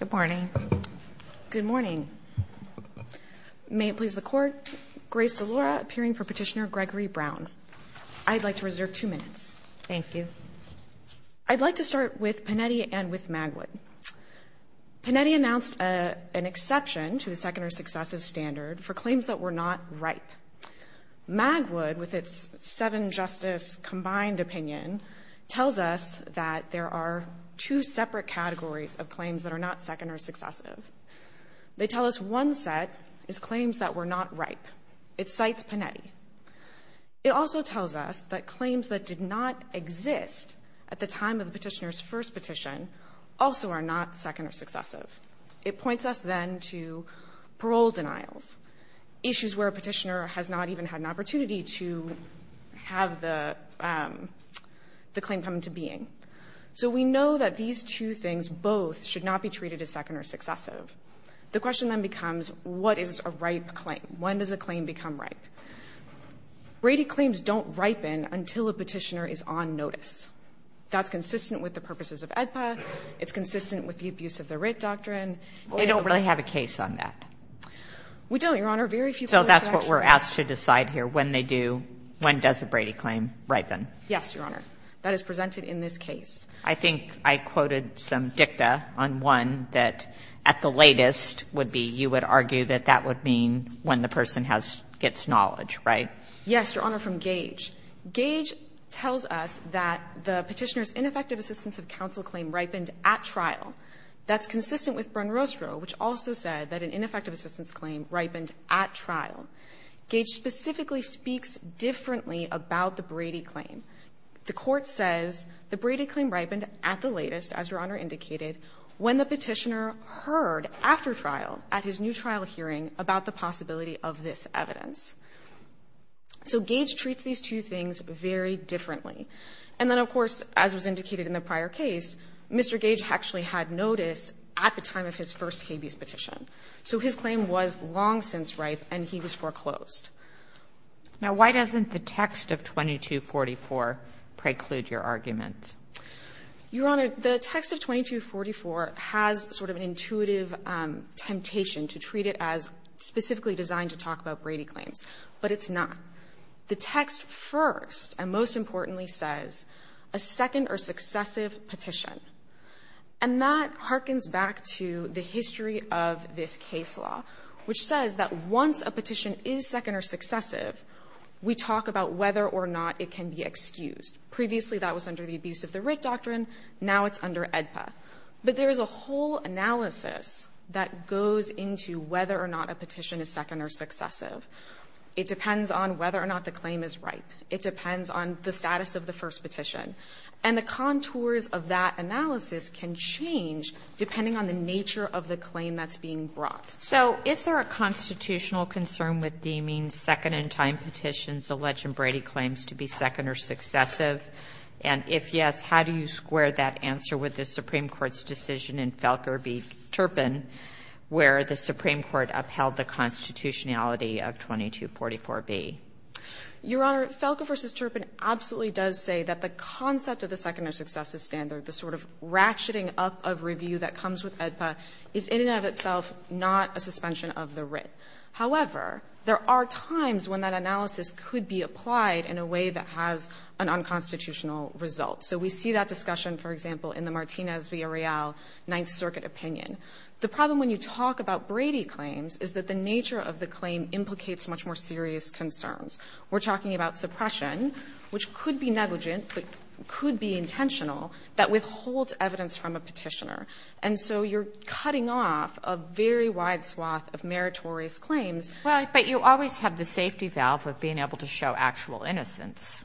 Good morning. Good morning. May it please the court, Grace Delora appearing for Petitioner Gregory Brown. I'd like to reserve two minutes. Thank you. I'd like to start with Panetti and with Magwood. Panetti announced an exception to the second or successive standard for claims that were not ripe. Magwood, with its seven-justice combined opinion, tells us that there are two separate categories of claims that are not second or successive. They tell us one set is claims that were not ripe. It cites Panetti. It also tells us that claims that did not exist at the time of the Petitioner's first petition also are not second or successive. It points us, then, to parole denials, issues where a Petitioner has not even had an opportunity to have the claim come into being. So we know that these two things both should not be treated as second or successive. The question then becomes, what is a ripe claim? When does a claim become ripe? Brady claims don't ripen until a Petitioner is on notice. That's consistent with the purposes of AEDPA. It's consistent with the abuse of the writ doctrine. They don't really have a case on that. We don't, Your Honor. Very few cases actually. So that's what we're asked to decide here, when they do, when does a Brady claim ripen? Yes, Your Honor. That is presented in this case. I think I quoted some dicta on one that at the latest would be you would argue that that would mean when the person gets knowledge, right? Yes, Your Honor, from Gage. Gage tells us that the Petitioner's ineffective assistance of counsel claim ripened at trial. That's consistent with Bronrostro, which also said that an ineffective assistance claim ripened at trial. Gage specifically speaks differently about the Brady claim. The Court says the Brady claim ripened at the latest, as Your Honor indicated, when the Petitioner heard after trial at his new trial hearing about the possibility of this evidence. So Gage treats these two things very differently. And then, of course, as was indicated in the prior case, Mr. Gage actually had notice at the time of his first habeas petition. So his claim was long since ripe and he was foreclosed. Now, why doesn't the text of 2244 preclude your argument? Your Honor, the text of 2244 has sort of an intuitive temptation to treat it as specifically designed to talk about Brady claims, but it's not. The text first and most importantly says a second or successive petition. And that hearkens back to the history of this case law, which says that once a petition is second or successive, we talk about whether or not it can be excused. Previously, that was under the abuse of the writ doctrine. Now it's under AEDPA. But there is a whole analysis that goes into whether or not a petition is second or successive. It depends on whether or not the claim is ripe. It depends on the status of the first petition. And the contours of that analysis can change depending on the nature of the claim that's being brought. So is there a constitutional concern with deeming second-in-time petitions alleged in Brady claims to be second or successive? And if yes, how do you square that answer with the Supreme Court's decision in Felker v. Turpin, where the Supreme Court upheld the constitutionality of 2244B? Your Honor, Felker v. Turpin absolutely does say that the concept of the second or successive standard, the sort of ratcheting up of review that comes with AEDPA, However, there are times when that analysis could be applied in a way that has an unconstitutional result. So we see that discussion, for example, in the Martinez v. Areal Ninth Circuit opinion. The problem when you talk about Brady claims is that the nature of the claim implicates much more serious concerns. We're talking about suppression, which could be negligent, but could be intentional, that withholds evidence from a petitioner. And so you're cutting off a very wide swath of meritorious claims. Well, but you always have the safety valve of being able to show actual innocence.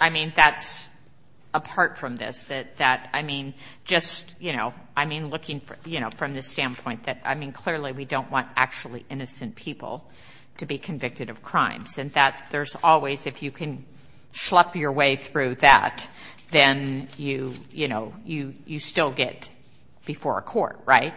I mean, that's apart from this, that, I mean, just, you know, I mean, looking from the standpoint that, I mean, clearly we don't want actually innocent people to be convicted of crimes. And that there's always, if you can schlup your way through that, then you, you know, you still get before a court, right?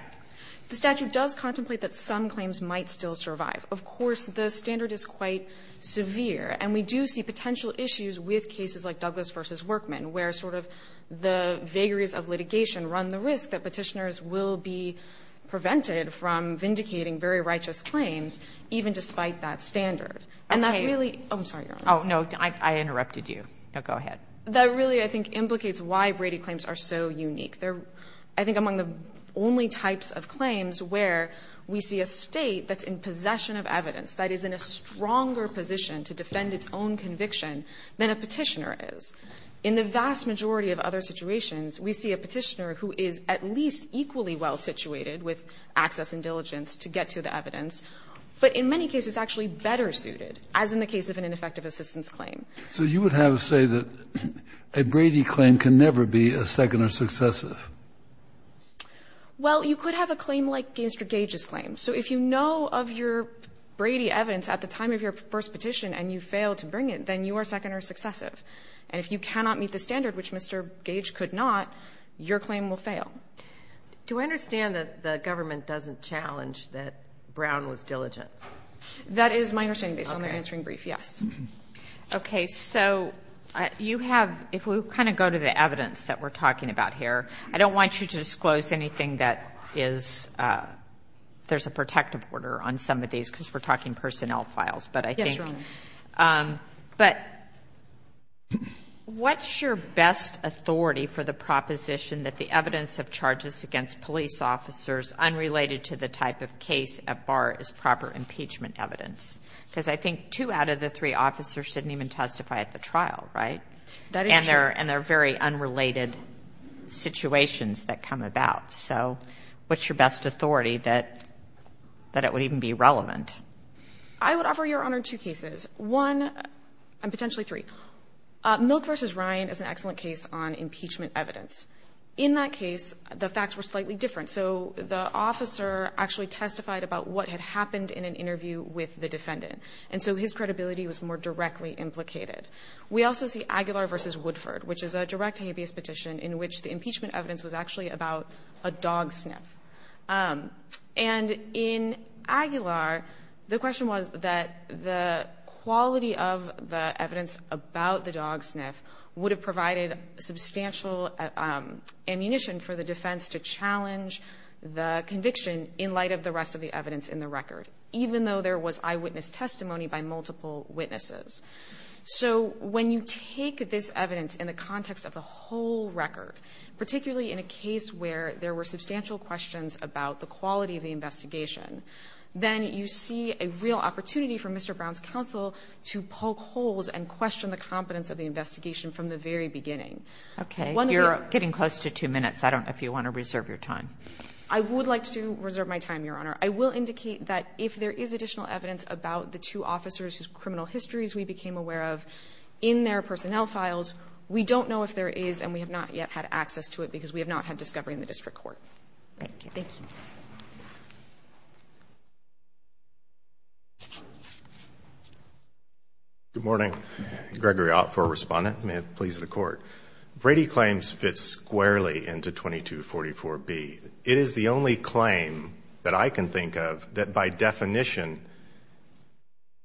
The statute does contemplate that some claims might still survive. Of course, the standard is quite severe. And we do see potential issues with cases like Douglas v. Workman, where sort of the vagaries of litigation run the risk that petitioners will be prevented from vindicating very righteous claims, even despite that standard. And that really Oh, I'm sorry, Your Honor. Oh, no, I interrupted you. Go ahead. That really, I think, implicates why Brady claims are so unique. They're, I think, among the only types of claims where we see a State that's in possession of evidence, that is in a stronger position to defend its own conviction than a petitioner is. In the vast majority of other situations, we see a petitioner who is at least equally well situated with access and diligence to get to the evidence, but in many cases actually better suited, as in the case of an ineffective assistance claim. So you would have to say that a Brady claim can never be a second or successive? Well, you could have a claim like Mr. Gage's claim. So if you know of your Brady evidence at the time of your first petition and you failed to bring it, then you are second or successive. And if you cannot meet the standard, which Mr. Gage could not, your claim will fail. Do I understand that the government doesn't challenge that Brown was diligent? That is my understanding, based on their answering brief, yes. Okay. So you have, if we kind of go to the evidence that we're talking about here, I don't want you to disclose anything that is, there's a protective order on some of these because we're talking personnel files, but I think. Yes, Your Honor. But what's your best authority for the proposition that the evidence of charges against police officers unrelated to the type of case at bar is proper impeachment evidence? Because I think two out of the three officers didn't even testify at the trial, right? That is true. And they're very unrelated situations that come about. So what's your best authority that it would even be relevant? I would offer, Your Honor, two cases. One, and potentially three. Milk v. Ryan is an excellent case on impeachment evidence. In that case, the facts were slightly different. So the officer actually testified about what had happened in an interview with the defendant. And so his credibility was more directly implicated. We also see Aguilar v. Woodford, which is a direct habeas petition in which the impeachment evidence was actually about a dog sniff. And in Aguilar, the question was that the quality of the evidence about the dog sniff would have provided substantial ammunition for the defense to challenge the conviction in light of the rest of the evidence in the record, even though there was eyewitness testimony by multiple witnesses. So when you take this evidence in the context of the whole record, particularly in a case where there were substantial questions about the quality of the investigation, then you see a real opportunity for Mr. Brown's counsel to poke holes and question the competence of the investigation from the very beginning. Okay. You're getting close to two minutes. I don't know if you want to reserve your time. I would like to reserve my time, Your Honor. I will indicate that if there is additional evidence about the two officers whose criminal histories we became aware of in their personnel files, we don't know if there is, and we have not yet had access to it because we have not had discovery in the district court. Thank you. Thank you. Good morning. Gregory Ott for Respondent. May it please the Court. Brady claims fit squarely into 2244B. It is the only claim that I can think of that, by definition,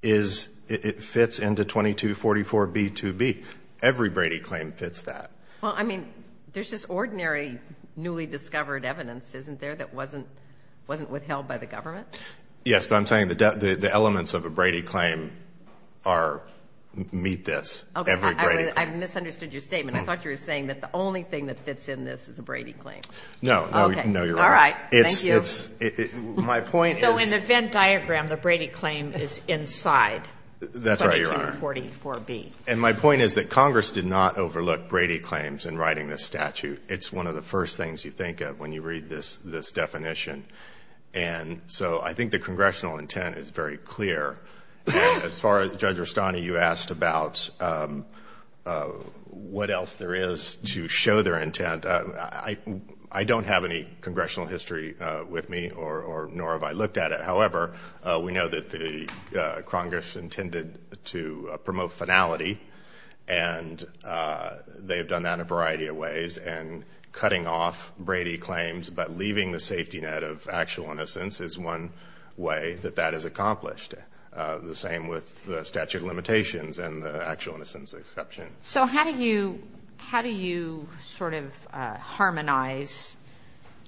is it fits into 2244B2B. Every Brady claim fits that. Well, I mean, there's just ordinary newly discovered evidence, isn't there, that wasn't withheld by the government? Yes, but I'm saying the elements of a Brady claim are, meet this, every Brady claim. Okay. I misunderstood your statement. I thought you were saying that the only thing that fits in this is a Brady claim. No. No, you're right. Okay. All right. Thank you. So in the Venn diagram, the Brady claim is inside 2244B. That's right, Your Honor. And my point is that Congress did not overlook Brady claims in writing this statute. It's one of the first things you think of when you read this definition. And so I think the Congressional intent is very clear. As far as Judge Rustani, you asked about what else there is to show their intent. I don't have any Congressional history with me, nor have I looked at it. However, we know that the Congress intended to promote finality. And they've done that in a variety of ways. And cutting off Brady claims but leaving the safety net of actual innocence is one way that that is accomplished. The same with the statute of limitations and the actual innocence exception. So how do you sort of harmonize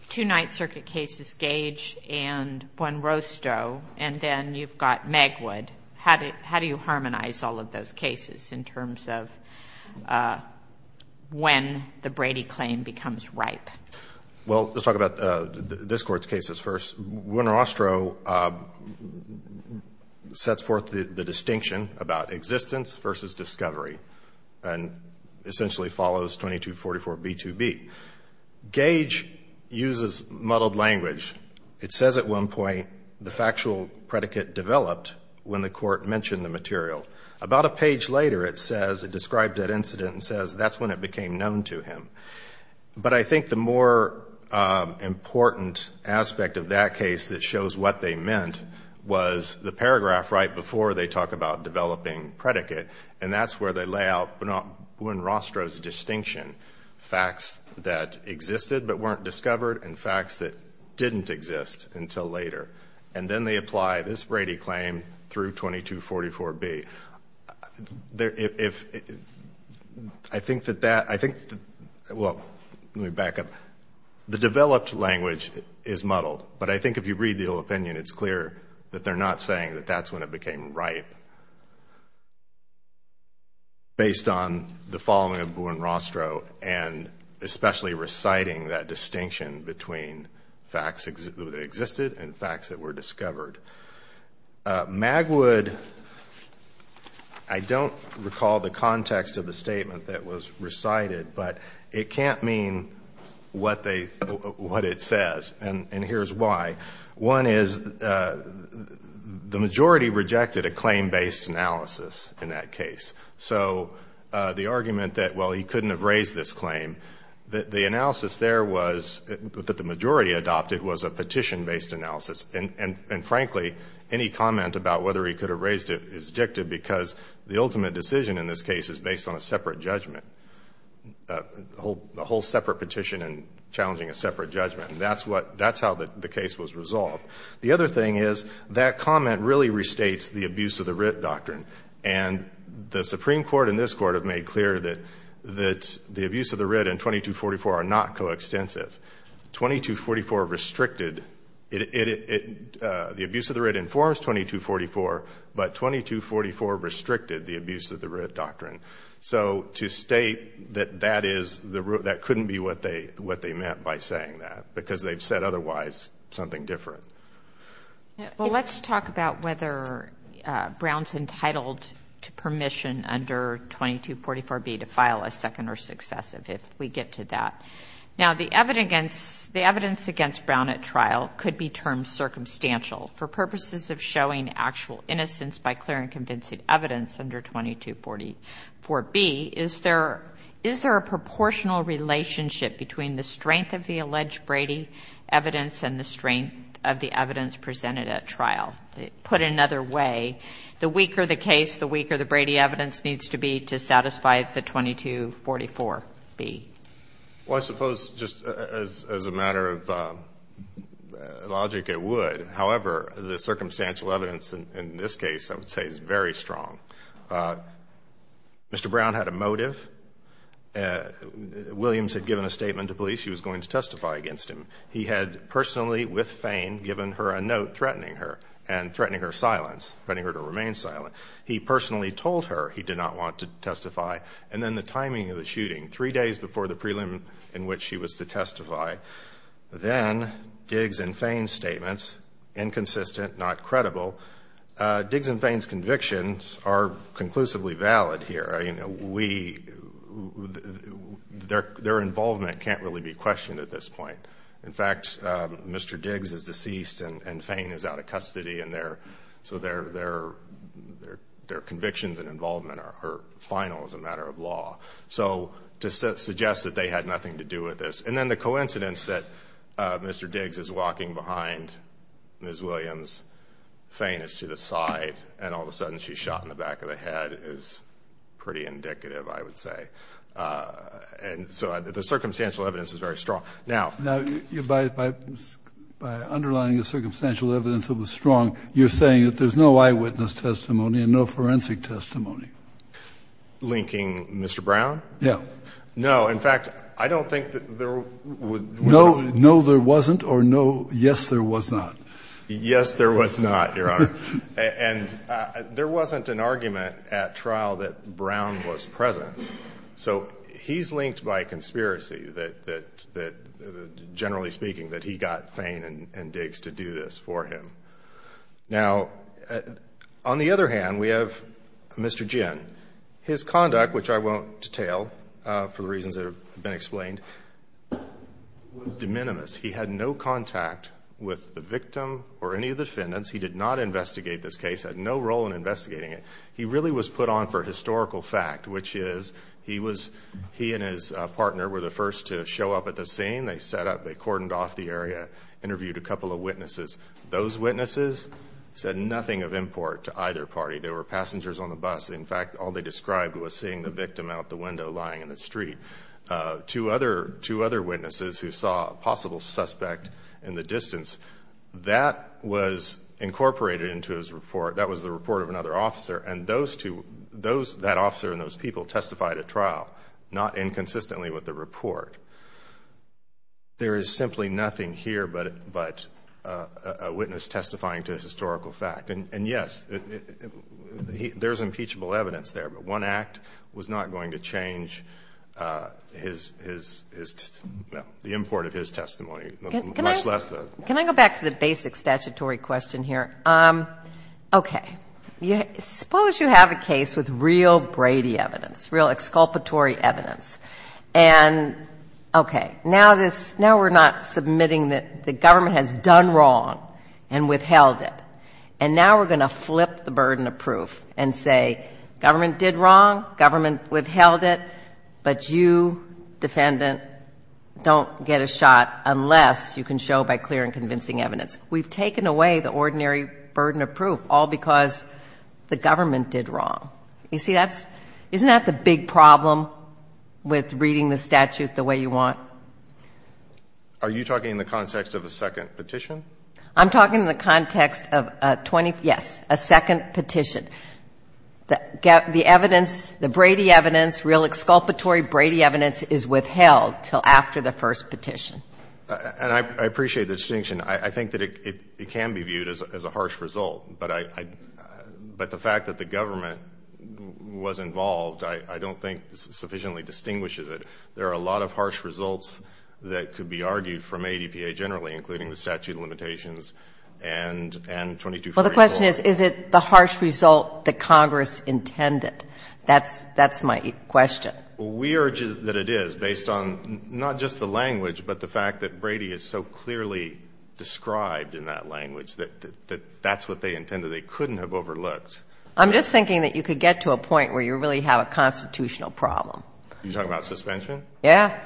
two Ninth Circuit cases, Gage and Juan Rostow, and then you've got Megwood? How do you harmonize all of those cases in terms of when the Brady claim becomes ripe? Well, let's talk about this Court's cases first. Juan Rostow sets forth the distinction about existence versus discovery and essentially follows 2244B2B. Gage uses muddled language. It says at one point, the factual predicate developed when the Court mentioned the material. About a page later, it says, it described that incident and says, that's when it became known to him. But I think the more important aspect of that case that shows what they meant was the paragraph right before they talk about developing predicate. And that's where they lay out Juan Rostow's distinction. Facts that existed but weren't discovered and facts that didn't exist until later. And then they apply this Brady claim through 2244B. I think that that, well, let me back up. The developed language is muddled, but I think if you read the opinion, it's clear that they're not saying that that's when it became ripe. Based on the following of Juan Rostow and especially reciting that distinction between facts that existed and facts that were discovered. Magwood, I don't recall the context of the statement that was recited, but it can't mean what it says. And here's why. One is the majority rejected a claim-based analysis in that case. So the argument that, well, he couldn't have raised this claim, the analysis there was that the majority adopted was a petition-based analysis. And frankly, any comment about whether he could have raised it is dictative because the ultimate decision in this case is based on a separate judgment. A whole separate petition and challenging a separate judgment. That's how the case was resolved. The other thing is that comment really restates the abuse of the writ doctrine. And the Supreme Court and this Court have made clear that the abuse of the writ and 2244 are not coextensive. 2244 restricted, the abuse of the writ informs 2244, but 2244 restricted the abuse of the writ doctrine. So to state that that couldn't be what they meant by saying that. Because they've said otherwise, something different. Well, let's talk about whether Brown's entitled to permission under 2244B to file a second or successive, if we get to that. Now, the evidence against Brown at trial could be termed circumstantial for purposes of showing actual innocence by clear and convincing evidence under 2244B. Is there a proportional relationship between the strength of the alleged Brady evidence and the strength of the evidence presented at trial? Put another way, the weaker the case, the weaker the Brady evidence needs to be to satisfy the 2244B. Well, I suppose just as a matter of logic, it would. However, the circumstantial evidence in this case, I would say, is very strong. Mr. Brown had a motive. Williams had given a statement to police. She was going to testify against him. He had personally, with Fain, given her a note threatening her and threatening her silence, threatening her to remain silent. He personally told her he did not want to testify. And then the timing of the shooting, three days before the prelim in which she was to testify, then Diggs and Fain's statements, inconsistent, not credible. Diggs and Fain's convictions are conclusively valid here. Their involvement can't really be questioned at this point. In fact, Mr. Diggs is deceased and Fain is out of custody and their convictions and involvement are final as a matter of law. So to suggest that they had nothing to do with this. And then the coincidence that Mr. Diggs is walking behind Ms. Williams, Fain is to the side, and all of a sudden she's shot in the back of the head is pretty indicative, I would say. And so the circumstantial evidence is very strong. Now, by underlining the circumstantial evidence that was strong, you're saying that there's no eyewitness testimony and no forensic testimony. Linking Mr. Brown? Yeah. No, in fact, I don't think that there was. No, there wasn't, or no, yes, there was not? Yes, there was not, Your Honor. And there wasn't an argument at trial that Brown was present. So he's linked by a conspiracy that, generally speaking, that he got Fain and Diggs to do this for him. Now, on the other hand, we have Mr. Ginn. His conduct, which I won't detail for the reasons that have been explained, was de minimis. He had no contact with the victim or any of the defendants. He did not investigate this case, had no role in investigating it. He really was put on for historical fact, which is he was, he and his partner were the first to show up at the scene. They set up, they cordoned off the area, interviewed a couple of witnesses. Those witnesses said nothing of import to either party. There were passengers on the bus. In fact, all they described was seeing the victim out the window lying in the street. Two other witnesses who saw a possible suspect in the distance, that was incorporated into his report. That was the report of another officer, and those two, that officer and those people testified at trial, not inconsistently with the report. There is simply nothing here but a witness testifying to historical fact. And, yes, there's impeachable evidence there, but one act was not going to change his, his, the import of his testimony, much less the. Can I go back to the basic statutory question here? Okay. Suppose you have a case with real Brady evidence, real exculpatory evidence. And, okay, now this, now we're not submitting that the government has done wrong and withheld it. And now we're going to flip the burden of proof and say government did wrong, government withheld it, but you, defendant, don't get a shot unless you can show by clear and convincing evidence. We've taken away the ordinary burden of proof all because the government did wrong. You see, that's, isn't that the big problem with reading the statute the way you want? Are you talking in the context of a second petition? I'm talking in the context of a 20, yes, a second petition. The evidence, the Brady evidence, real exculpatory Brady evidence is withheld until after the first petition. And I appreciate the distinction. I think that it can be viewed as a harsh result, but I, but the fact that the government was involved, I don't think sufficiently distinguishes it. There are a lot of harsh results that could be argued from ADPA generally, including the statute of limitations and 2244. Well, the question is, is it the harsh result that Congress intended? That's my question. We urge that it is based on not just the language, but the fact that Brady is so clearly described in that language that that's what they intended. They couldn't have overlooked. I'm just thinking that you could get to a point where you really have a constitutional problem. Are you talking about suspension? Yes.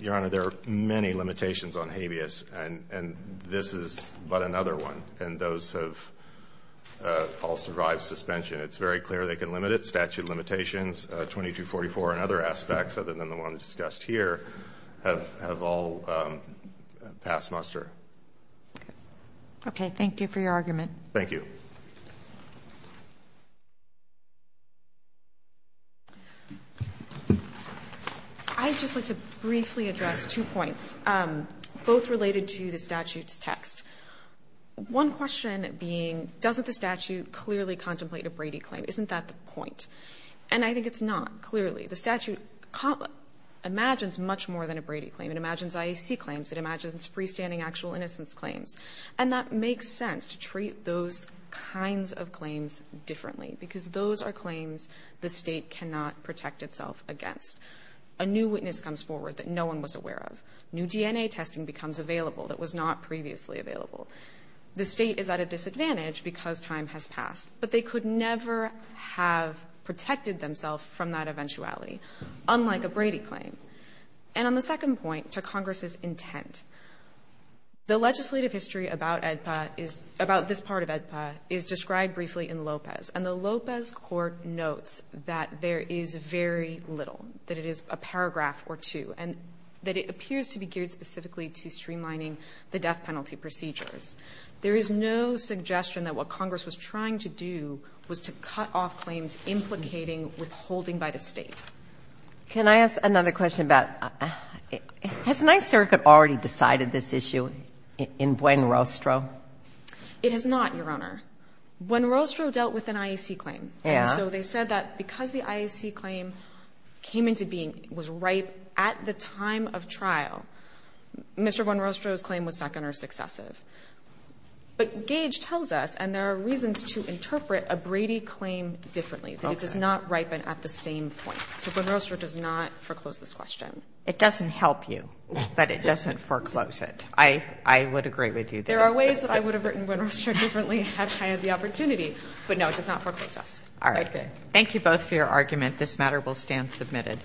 Your Honor, there are many limitations on habeas, and this is but another one. And those have all survived suspension. It's very clear they can limit it. Statute of limitations, 2244 and other aspects other than the one discussed here have all passed muster. Okay. Thank you for your argument. Thank you. I'd just like to briefly address two points, both related to the statute's text. One question being, doesn't the statute clearly contemplate a Brady claim? Isn't that the point? And I think it's not, clearly. The statute imagines much more than a Brady claim. It imagines IAC claims. It imagines freestanding actual innocence claims. And that makes sense to treat those kinds of claims differently, because those are claims the State cannot protect itself against. A new witness comes forward that no one was aware of. New DNA testing becomes available that was not previously available. The State is at a disadvantage because time has passed. But they could never have protected themselves from that eventuality, unlike a Brady claim. And on the second point, to Congress's intent, the legislative history about EDPA is — about this part of EDPA is described briefly in Lopez. And the Lopez court notes that there is very little, that it is a paragraph or two, and that it appears to be geared specifically to streamlining the death penalty procedures. There is no suggestion that what Congress was trying to do was to cut off claims implicating withholding by the State. Can I ask another question about — has Ninth Circuit already decided this issue in Buenrostro? It has not, Your Honor. Buenrostro dealt with an IAC claim. Yeah. And so they said that because the IAC claim came into being, was ripe at the time of trial, Mr. Buenrostro's claim was second or successive. But Gage tells us, and there are reasons to interpret a Brady claim differently, that it does not ripen at the same point. So Buenrostro does not foreclose this question. It doesn't help you that it doesn't foreclose it. I would agree with you there. There are ways that I would have written Buenrostro differently had I had the opportunity. But, no, it does not foreclose us. All right. Thank you both for your argument. This matter will stand submitted.